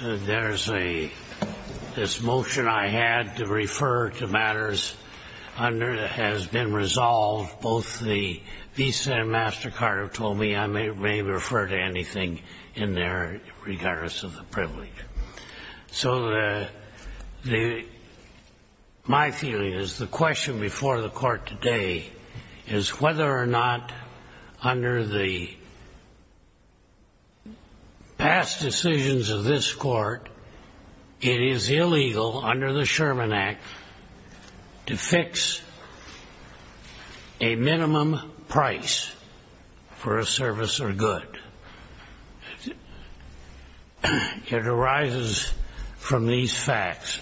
There's a, this motion I had to refer to matters under that has been resolved, both the Visa and MasterCard have told me I may refer to anything in there regardless of the privilege. So the, my feeling is the question before the court today is whether or not under the past decisions of this court it is illegal under the Sherman Act to fix a minimum price for a service or good. It arises from these facts.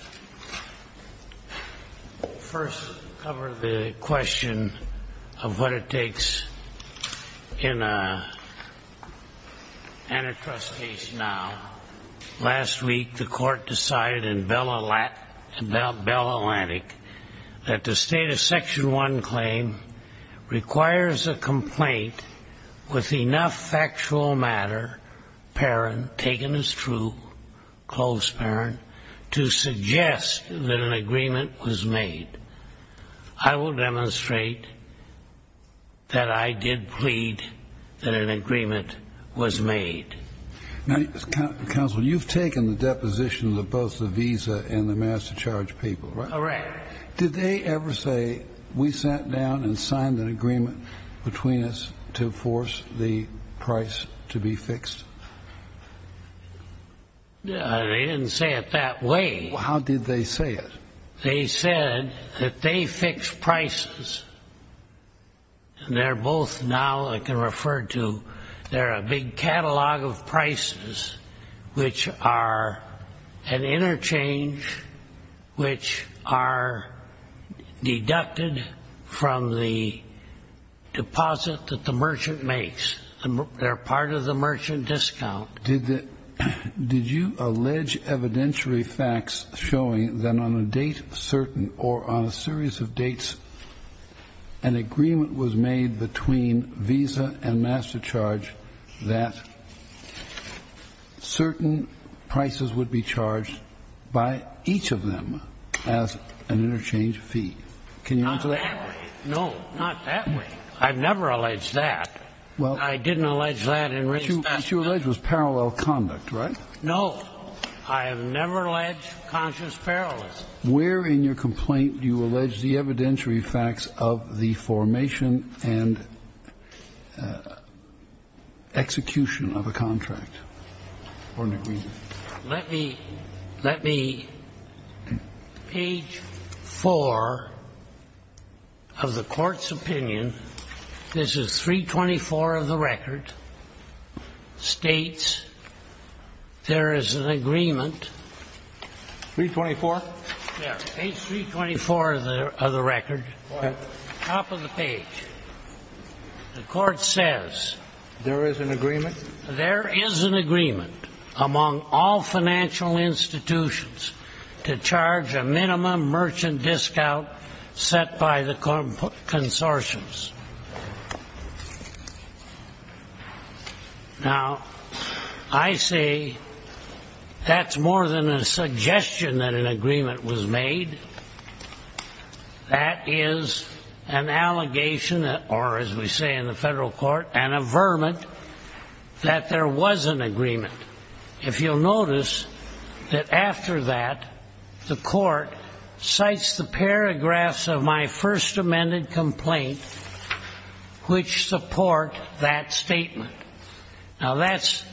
First, cover the question of what it takes in a antitrust case now. Last week the court decided in Bell Atlantic that the state of Section 1 claim requires a complaint with enough factual matter, parent, taken as true, close parent, to suggest that an agreement was made. I will demonstrate that I did plead that an agreement was made. Counsel, you've taken the deposition of both the Visa and the MasterCard people, right? Correct. Did they ever say we sat down and signed an agreement between us to force the price to be fixed? They didn't say it that way. How did they say it? They said that they fix prices, and they're both now I can refer to, they're a big catalog of prices which are an interchange which are deducted from the deposit that the merchant makes. They're part of the merchant discount. Did you allege evidentiary facts showing that on a date certain or on a series of dates an agreement was made between Visa and MasterCard that certain prices would be charged by each of them as an interchange fee? Can you answer that? Not that way. No, not that way. I've never alleged that. I didn't allege that. What you allege was parallel conduct, right? No. I have never alleged conscious parallelism. Where in your complaint do you allege the evidentiary facts of the formation and execution of a contract or an agreement? Let me, let me, page 4 of the Court's opinion, this is 324 of the record, states there is an agreement. 324? Yeah, page 324 of the record. What? Top of the page. The Court says. There is an agreement? There is an agreement among all financial institutions to charge a minimum merchant discount set by the consortiums. Now, I say that's more than a suggestion that an agreement was made. That is an allegation, or as we say in the federal court, an averment that there was an agreement. If you'll notice that after that, the court cites the paragraphs of my first amended complaint which support that statement. Now, that's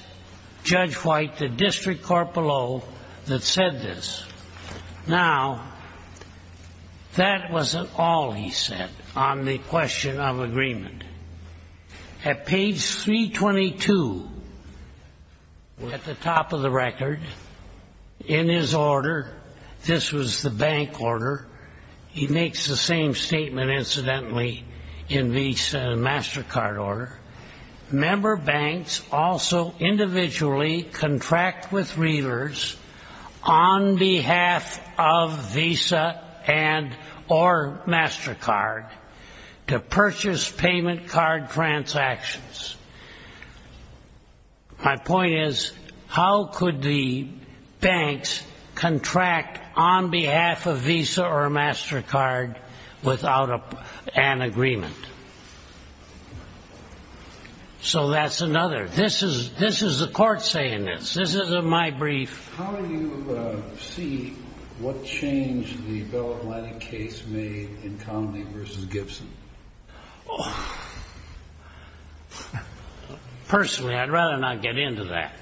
Judge White, the district corporal that said this. Now, that wasn't all he said on the question of agreement. At page 322, at the top of the record, in his order, this was the bank order. He makes the same statement, incidentally, in Visa and MasterCard order. Member banks also individually contract with readers on behalf of Visa and or MasterCard to purchase payment card transactions. My point is, how could the banks contract on behalf of Visa or MasterCard without an agreement? So that's another. This is the court saying this. This is my brief. How do you see what change the Bell Atlantic case made in Connolly versus Gibson? Personally, I'd rather not get into that.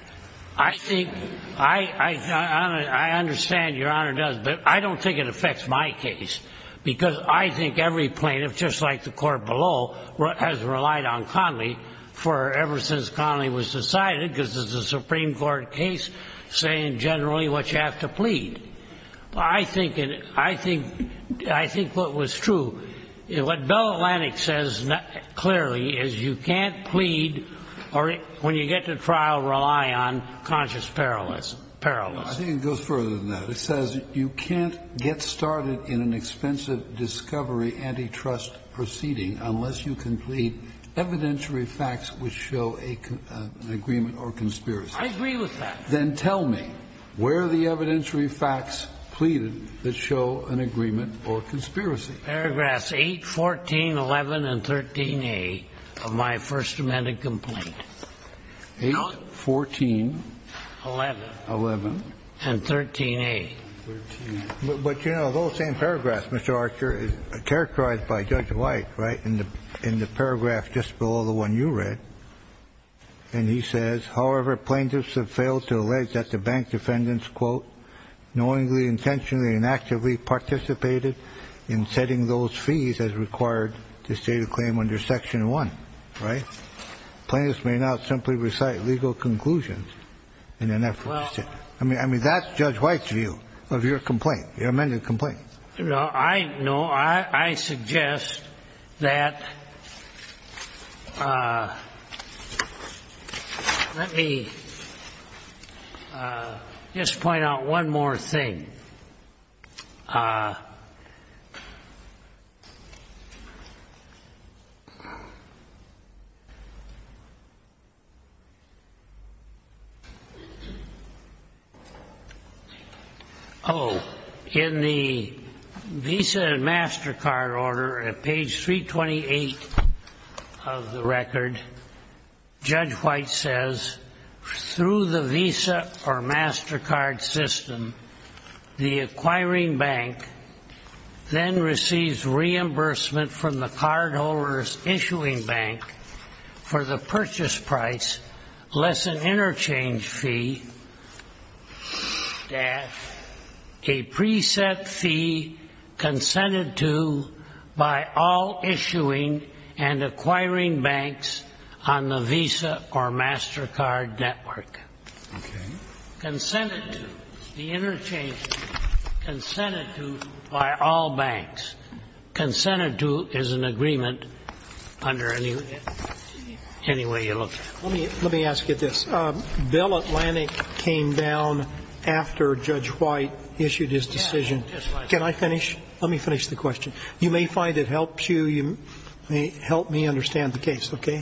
I think I understand your Honor does, but I don't think it affects my case because I think every plaintiff, just like the court below, has relied on Connolly for ever since Connolly was decided, because it's a Supreme Court case, saying generally what you have to plead. I think what was true, what Bell Atlantic says clearly is you can't plead or when you get to trial, rely on conscious peril. I think it goes further than that. It says you can't get started in an expensive discovery antitrust proceeding unless you can plead evidentiary facts which show an agreement or conspiracy. I agree with that. Then tell me, where are the evidentiary facts pleaded that show an agreement or conspiracy? Paragraphs 8, 14, 11, and 13A of my First Amendment complaint. 8, 14. 11. 11. And 13A. 13. But, you know, those same paragraphs, Mr. Archer, are characterized by Judge White, right, in the paragraph just below the one you read. And he says, however, plaintiffs have failed to allege that the bank defendants, quote, knowingly, intentionally, and actively participated in setting those fees as required to state a claim under Section 1. Right? Plaintiffs may not simply recite legal conclusions in an effort to state. I mean, that's Judge White's view of your complaint, your amended complaint. No, I know. I suggest that let me just point out one more thing. Oh, in the Visa and MasterCard order at page 328 of the record, Judge White says through the Visa or MasterCard system, the acquirers of the Visa and MasterCard system are not subject to any kind of penalty. Okay. Consented to, the interchanges, consented to by all banks. Consented to is an agreement under any way you look at it. Let me ask you this. Bill Atlantic came down after Judge White issued his decision. Can I finish? Let me finish the question. You may find it helps you. Help me understand the case, okay?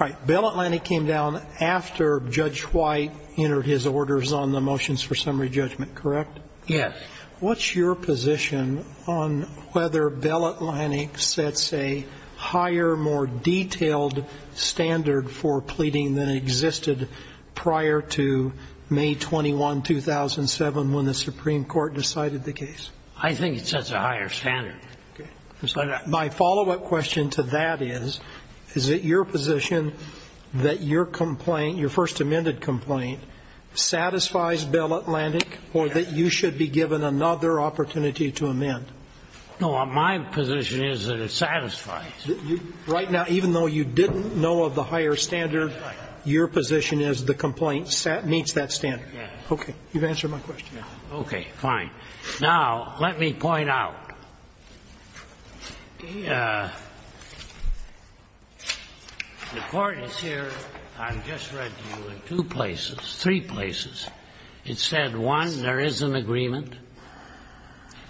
All right. Bill Atlantic came down after Judge White entered his orders on the motions for summary judgment, correct? Yes. What's your position on whether Bill Atlantic sets a higher, more detailed standard for pleading than existed prior to May 21, 2007, when the Supreme Court decided the case? I think it sets a higher standard. Okay. My follow-up question to that is, is it your position that your complaint, your first amended complaint, satisfies Bill Atlantic or that you should be given another opportunity to amend? No, my position is that it satisfies. Right now, even though you didn't know of the higher standard, your position is the complaint meets that standard? Yes. Okay. You've answered my question. Okay, fine. Now, let me point out. The Court is here, I've just read to you, in two places, three places. It said, one, there is an agreement. It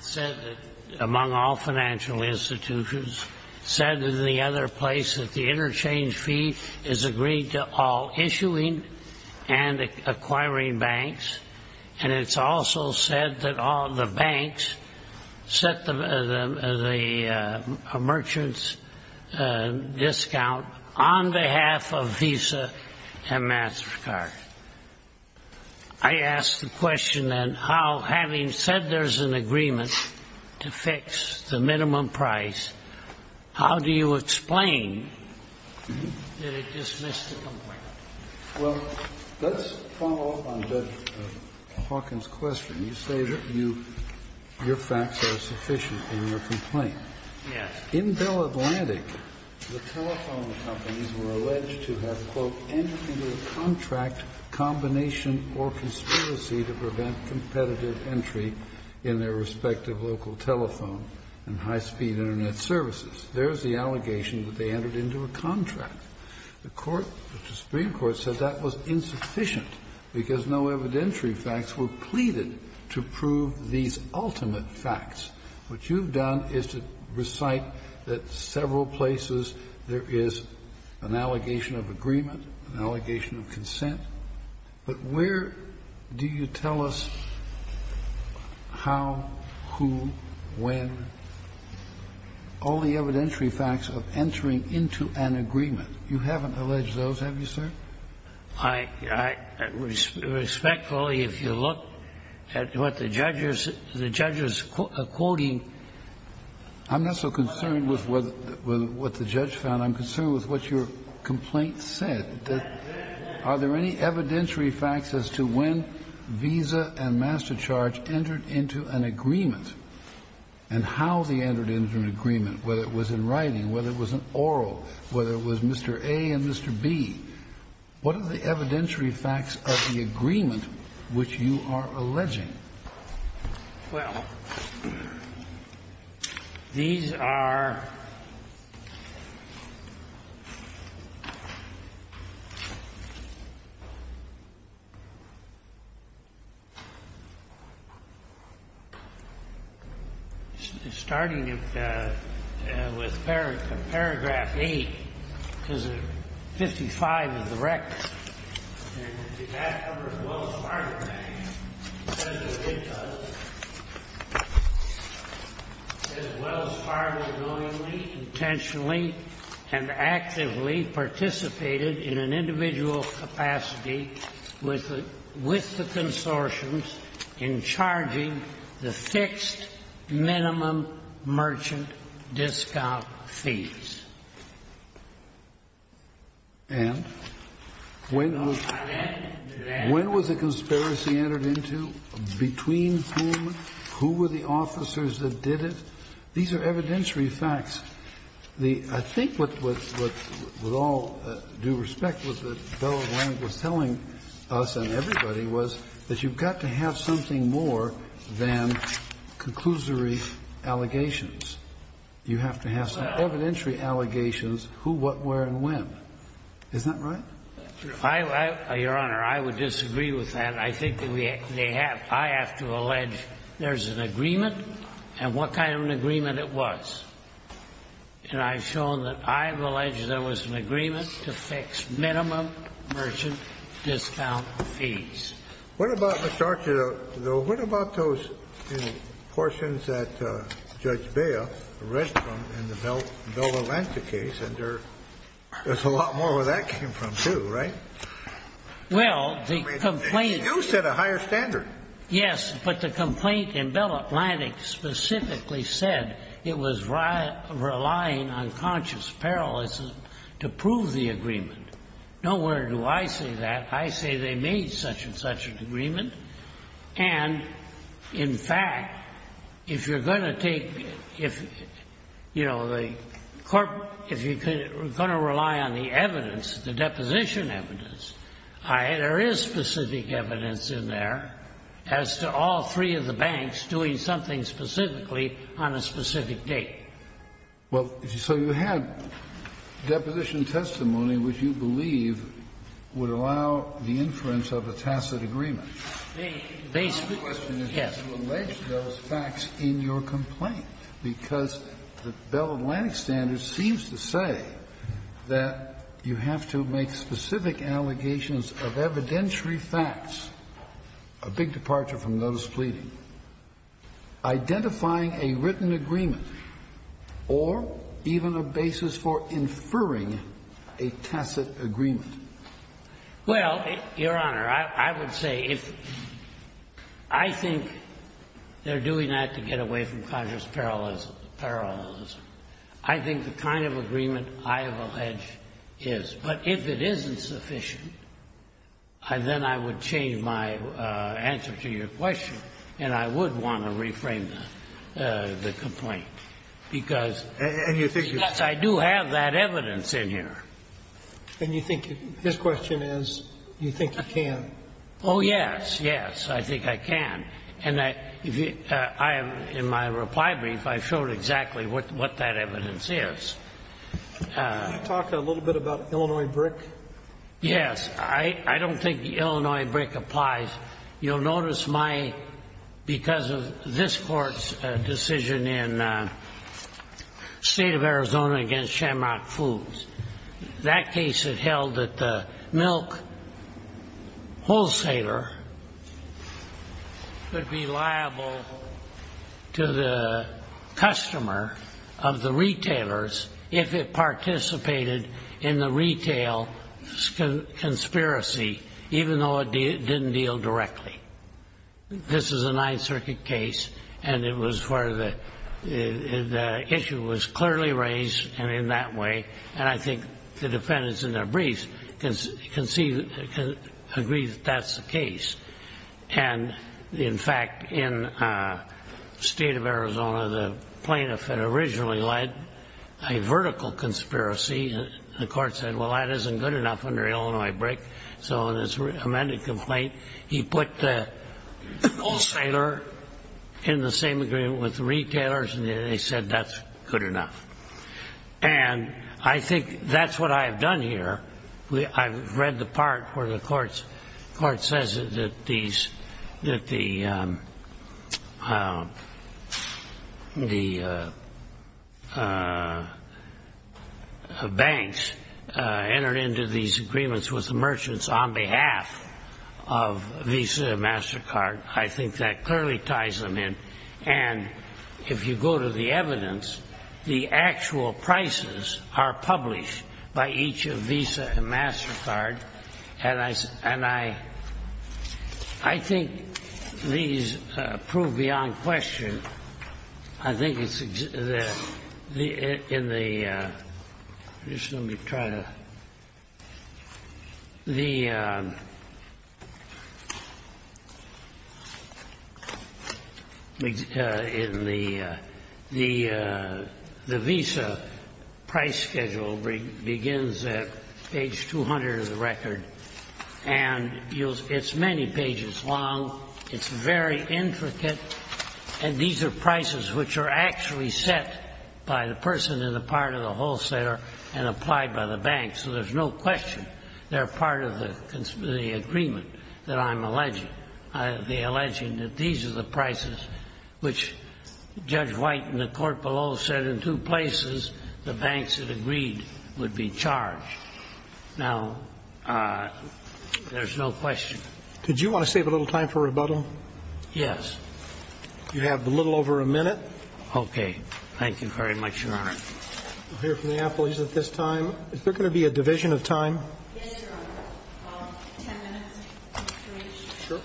said that among all financial institutions. It said in the other place that the interchange fee is agreed to all issuing and acquiring banks. And it's also said that all the banks set the merchant's discount on behalf of Visa and MasterCard. I ask the question, then, how, having said there's an agreement to fix the minimum price, how do you explain that it dismissed the complaint? Well, let's follow up on Judge Hawkins' question. You say that your facts are sufficient in your complaint. Yes. In Bill Atlantic, the telephone companies were alleged to have, quote, entered into a contract, combination, or conspiracy to prevent competitive entry in their respective local telephone and high-speed Internet services. There's the allegation that they entered into a contract. The Court, the Supreme Court, said that was insufficient because no evidentiary facts were pleaded to prove these ultimate facts. What you've done is to recite that several places there is an allegation of agreement, an allegation of consent, but where do you tell us how, who, when? All the evidentiary facts of entering into an agreement. You haven't alleged those, have you, sir? I respectfully, if you look at what the judge is quoting. I'm not so concerned with what the judge found. I'm concerned with what your complaint said, that are there any evidentiary facts as to when Visa and Master Charge entered into an agreement and how they entered into an agreement, whether it was in writing, whether it was an oral, whether it was Mr. A and Mr. B? What are the evidentiary facts of the agreement which you are alleging? Well, these are starting with paragraph 8, because 55 is the record. And that covers Wells Fargo Bank. It says that it does. It says Wells Fargo knowingly, intentionally, and actively participated in an individual capacity with the consortiums in charging the fixed minimum merchant discount fees. And when was the conspiracy entered into? Between whom? Who were the officers that did it? These are evidentiary facts. I think what all due respect was that the fellow was telling us and everybody was that you've got to have something more than conclusory allegations. You have to have some evidentiary allegations who, what, where, and when. Is that right? Your Honor, I would disagree with that. I think they have to allege there's an agreement and what kind of an agreement it was. And I've shown that I've alleged there was an agreement to fix minimum merchant discount fees. What about, Mr. Archer, though, what about those portions that Judge Bea read from in the Bell Atlantic case? And there's a lot more where that came from, too, right? Well, the complaint... You said a higher standard. Yes, but the complaint in Bell Atlantic specifically said it was relying on conscious parallelism to prove the agreement. Nowhere do I see that. I say they made such and such an agreement. And, in fact, if you're going to take, you know, if you're going to rely on the evidence, the deposition evidence, there is specific evidence in there as to all three of the banks doing something specifically on a specific date. Well, so you had deposition testimony which you believe would allow the inference of a tacit agreement. They split, yes. The question is, did you allege those facts in your complaint? Because the Bell Atlantic standards seems to say that you have to make specific allegations of evidentiary facts, a big departure from notice pleading. Identifying a written agreement or even a basis for inferring a tacit agreement. Well, Your Honor, I would say if I think they're doing that to get away from conscious parallelism, I think the kind of agreement I have alleged is. But if it isn't sufficient, then I would change my answer to your question, and I would want to reframe the complaint, because I do have that evidence in here. And you think his question is, you think you can? Oh, yes, yes. I think I can. And in my reply brief, I showed exactly what that evidence is. Can you talk a little bit about Illinois BRIC? Yes. I don't think Illinois BRIC applies. You'll notice my, because of this Court's decision in State of Arizona against Shamrock Foods, that case it held that the milk wholesaler could be liable to the customer of the retailers if it participated in the retail conspiracy, even though it didn't deal directly. This is a Ninth Circuit case, and it was where the issue was clearly raised in that way, and I think the defendants in their briefs can agree that that's the case. And, in fact, in State of Arizona, the plaintiff had originally led a vertical conspiracy. The Court said, well, that isn't good enough under Illinois BRIC. So in his amended complaint, he put the wholesaler in the same agreement with the retailers, and they said that's good enough. And I think that's what I've done here. I've read the part where the Court says that the banks entered into these agreements with the merchants on behalf of Visa and MasterCard. I think that clearly ties them in, and if you go to the evidence, the actual prices are published by each of Visa and MasterCard. And I think these prove beyond question. I think it's in the visa price schedule begins at page 200 of the record, and it's many pages long. It's very intricate, and these are prices which are actually set by the person in the part of the wholesaler and applied by the bank. So there's no question they're part of the agreement that I'm alleging, the alleging that these are the prices which Judge White in the court below said in two places the banks that agreed would be charged. Now, there's no question. Did you want to save a little time for rebuttal? Yes. You have a little over a minute. Thank you very much, Your Honor. We'll hear from the appellees at this time. Is there going to be a division of time? Yes, Your Honor. Ten minutes, please. Sure.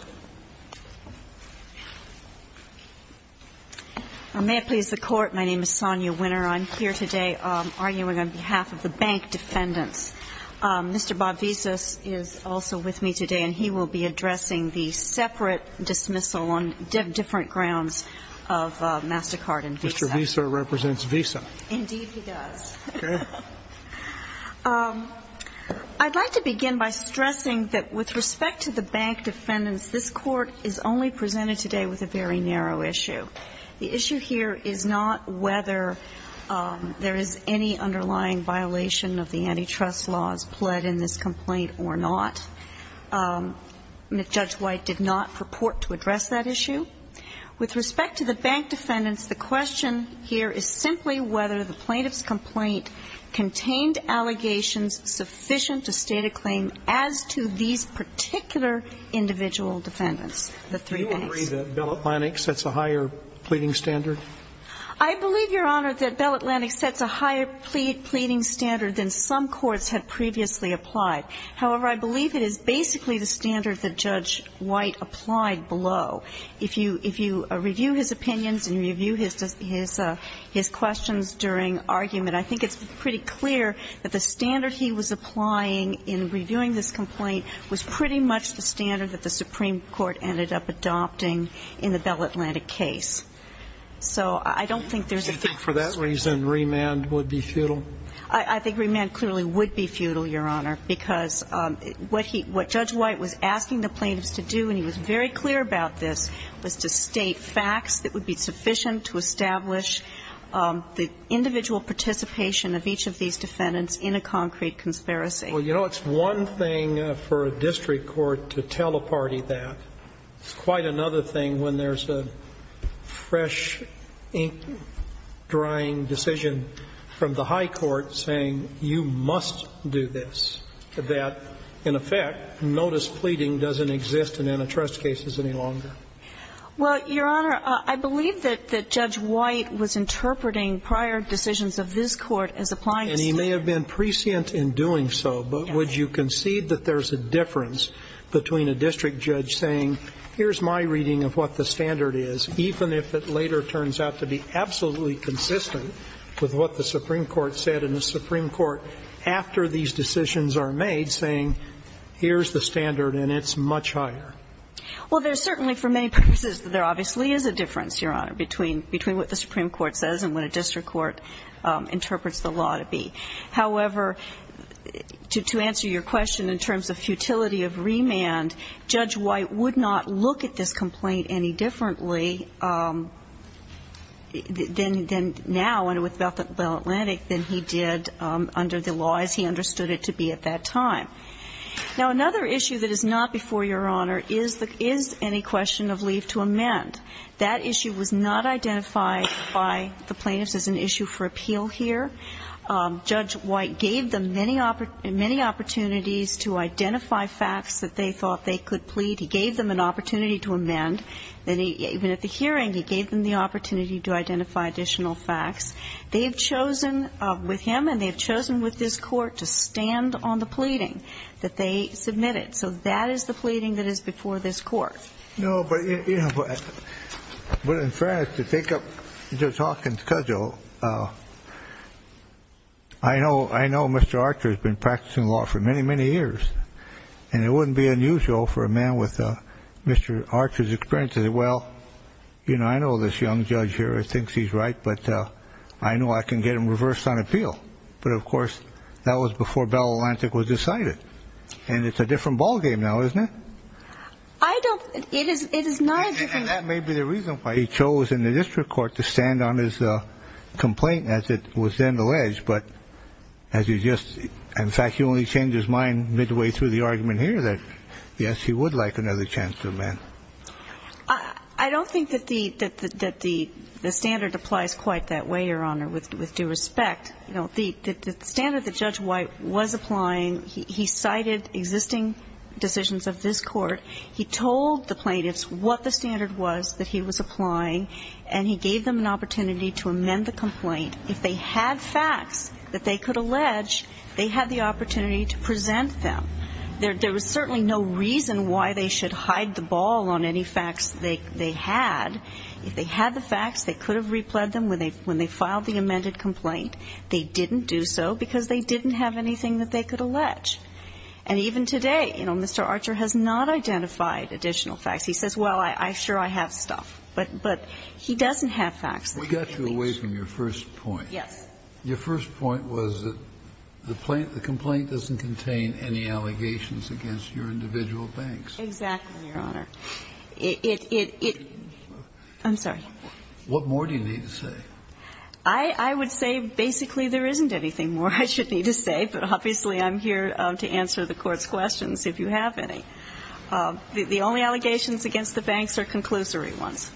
May it please the Court, my name is Sonia Winner. I'm here today arguing on behalf of the bank defendants. Mr. Bob Visas is also with me today, and he will be addressing the separate dismissal on different grounds of MasterCard and Visa. Mr. Visa represents Visa. Indeed, he does. Okay. I'd like to begin by stressing that with respect to the bank defendants, this Court is only presented today with a very narrow issue. The issue here is not whether there is any underlying violation of the antitrust laws pled in this complaint or not. Judge White did not purport to address that issue. With respect to the bank defendants, the question here is simply whether the plaintiff's complaint contained allegations sufficient to state a claim as to these particular individual defendants, the three banks. Do you agree that Bell Atlantic sets a higher pleading standard? I believe, Your Honor, that Bell Atlantic sets a higher pleading standard than some courts had previously applied. However, I believe it is basically the standard that Judge White applied below. If you review his opinions and review his questions during argument, I think it's pretty clear that the standard he was applying in reviewing this complaint was pretty much the standard that the Supreme Court ended up adopting in the Bell Atlantic case. So I don't think there's a fix. Do you think for that reason remand would be futile? I think remand clearly would be futile, Your Honor, because what Judge White was asking the plaintiffs to do, and he was very clear about this, was to state facts that would be sufficient to establish the individual participation of each of these defendants in a concrete conspiracy. Well, you know, it's one thing for a district court to teleparty that. It's quite another thing when there's a fresh ink drying decision from the high court saying you must do this, that, in effect, notice pleading doesn't exist in antitrust cases any longer. Well, Your Honor, I believe that Judge White was interpreting prior decisions of this Court as applying the standard. And he may have been prescient in doing so, but would you concede that there's a difference between a district judge saying here's my reading of what the standard is, even if it later turns out to be absolutely consistent with what the Supreme Court said and the Supreme Court, after these decisions are made, saying here's the standard and it's much higher? Well, there's certainly, for many purposes, there obviously is a difference, Your Honor, between what the Supreme Court says and what a district court interprets the law to be. However, to answer your question in terms of futility of remand, Judge White would not look at this complaint any differently than now and with Bethel Atlantic than he did under the law as he understood it to be at that time. Now, another issue that is not before Your Honor is any question of leave to amend. That issue was not identified by the plaintiffs as an issue for appeal here. Judge White gave them many opportunities to identify facts that they thought they could plead. He gave them an opportunity to amend. Even at the hearing, he gave them the opportunity to identify additional facts. They have chosen with him and they have chosen with this Court to stand on the pleading that they submitted. So that is the pleading that is before this Court. No, but in fairness, to take up Judge Hawkins' cudgel, I know Mr. Archer has been practicing law for many, many years. And it wouldn't be unusual for a man with Mr. Archer's experience to say, Well, I know this young judge here thinks he's right, but I know I can get him reversed on appeal. But, of course, that was before Bethel Atlantic was decided. And it's a different ballgame now, isn't it? I don't – it is not a different ballgame. And that may be the reason why he chose in the district court to stand on his complaint as it was then alleged. But as you just – in fact, he only changed his mind midway through the argument here that, yes, he would like another chance to amend. I don't think that the standard applies quite that way, Your Honor, with due respect. The standard that Judge White was applying, he cited existing decisions of this court. He told the plaintiffs what the standard was that he was applying. And he gave them an opportunity to amend the complaint. If they had facts that they could allege, they had the opportunity to present them. There was certainly no reason why they should hide the ball on any facts they had. in the complaint. They didn't do so because they didn't have anything that they could allege. And even today, you know, Mr. Archer has not identified additional facts. He says, well, I'm sure I have stuff. But he doesn't have facts that he can allege. We got you away from your first point. Yes. Your first point was that the complaint doesn't contain any allegations against your individual banks. Exactly, Your Honor. I'm sorry. What more do you need to say? I would say basically there isn't anything more I should need to say. But obviously, I'm here to answer the court's questions, if you have any. The only allegations against the banks are conclusory ones.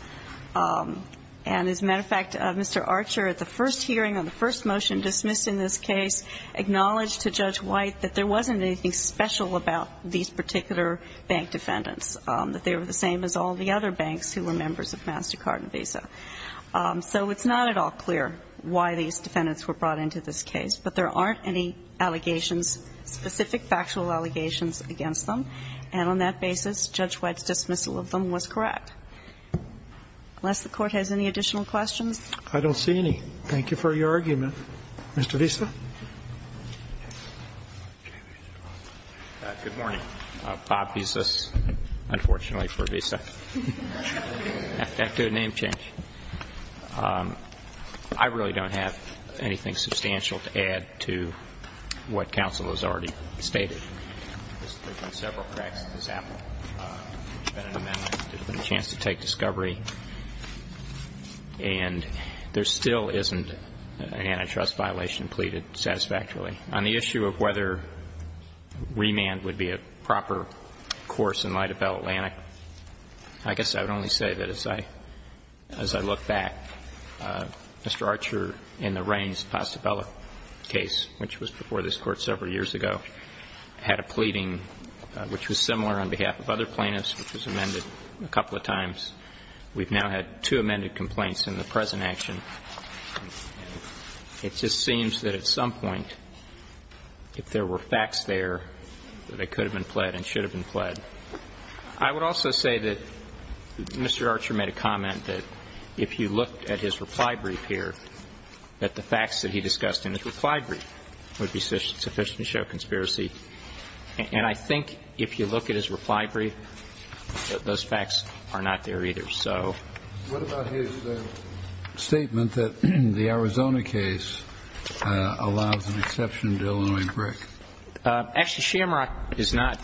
And as a matter of fact, Mr. Archer, at the first hearing on the first motion dismissed in this case, acknowledged to Judge White that there wasn't anything special about these particular bank defendants, that they were the same as all the other banks who were members of MasterCard and Visa. So it's not at all clear why these defendants were brought into this case. But there aren't any allegations, specific factual allegations against them. And on that basis, Judge White's dismissal of them was correct. Unless the Court has any additional questions. I don't see any. Thank you for your argument. Mr. Visa. Good morning. Bob Visas, unfortunately for Visa. I have to do a name change. I really don't have anything substantial to add to what counsel has already stated. There's been several cracks in this apple. There's been an amendment, there's been a chance to take discovery. And there still isn't an antitrust violation pleaded satisfactorily. On the issue of whether remand would be a proper course in light of Bell Atlantic, I guess I would only say that as I look back, Mr. Archer in the Raines-Pastabella case, which was before this Court several years ago, had a pleading which was similar on behalf of other plaintiffs, which was amended a couple of times. We've now had two amended complaints in the present action. It just seems that at some point, if there were facts there, that it could have been pled and should have been pled. I would also say that Mr. Archer made a comment that if you look at his reply brief here, that the facts that he discussed in his reply brief would sufficiently show conspiracy. And I think if you look at his reply brief, those facts are not there either. So. What about his statement that the Arizona case allows an exception to Illinois brick? Actually, Shamrock is not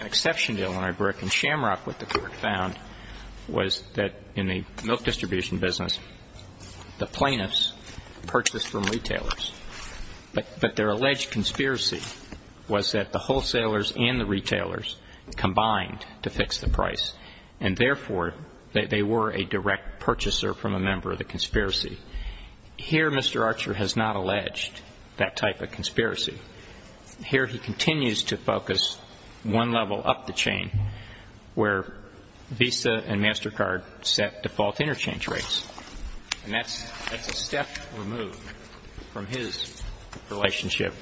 an exception to Illinois brick. In Shamrock, what the Court found was that in the milk distribution business, the plaintiffs purchased from retailers. But their alleged conspiracy was that the wholesalers and the retailers combined to fix the price, and therefore, that they were a direct purchaser from a member of the conspiracy. Here, Mr. Archer has not alleged that type of conspiracy. Here, he continues to focus one level up the chain, where Visa and MasterCard set default interchange rates. And that's a step removed from his relationship,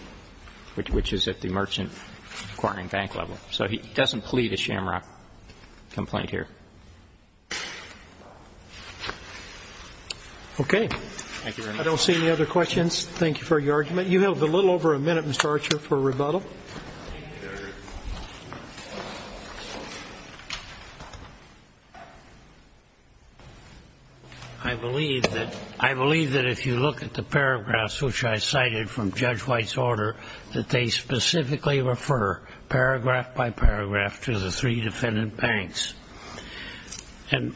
which is at the merchant acquiring bank level. So he doesn't plead a Shamrock complaint here. Okay. I don't see any other questions. Thank you for your argument. You have a little over a minute, Mr. Archer, for rebuttal. I believe that if you look at the paragraphs which I cited from Judge White's order, that they specifically refer, paragraph by paragraph, to the three defendant banks. And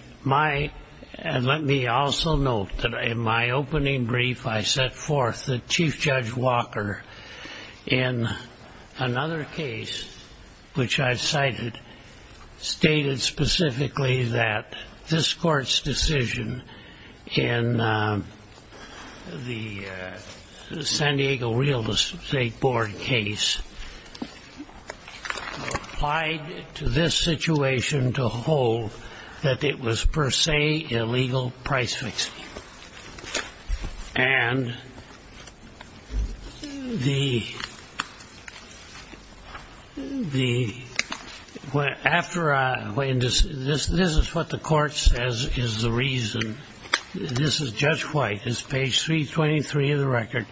let me also note that in my opening brief, I set forth that Chief Judge Walker, in another case which I cited, stated specifically that this court's decision in the San Diego Real Estate Board case applied to this situation to hold that it was per se illegal price fixing. And the, after I, this is what the court says is the reason, this is Judge White, it's page 323 of the record,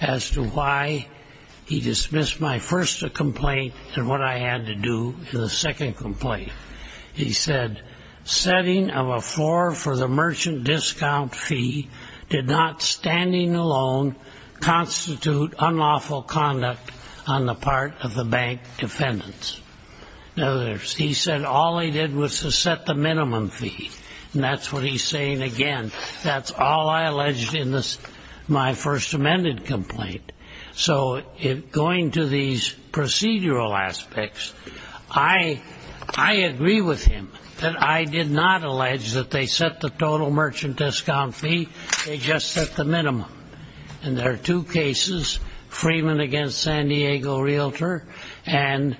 as to why he dismissed my first complaint and what I had to do to the second complaint. He said, setting of a floor for the merchant discount fee did not standing alone constitute unlawful conduct on the part of the bank defendants. In other words, he said all I did was to set the minimum fee. And that's what he's saying again. That's all I alleged in my first amended complaint. So going to these procedural aspects, I agree with him that I did not allege that they set the total merchant discount fee, they just set the minimum. And there are two cases, Freeman against San Diego Realtor and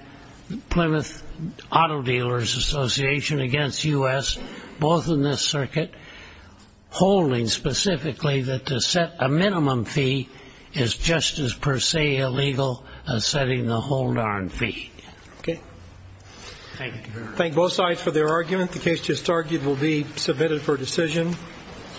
Plymouth Auto Dealers Association against U.S., both in this circuit, holding specifically that to set a minimum fee is just as per se illegal as setting the whole darn fee. Okay. Thank you. Thank both sides for their argument. The case just argued will be submitted for decision.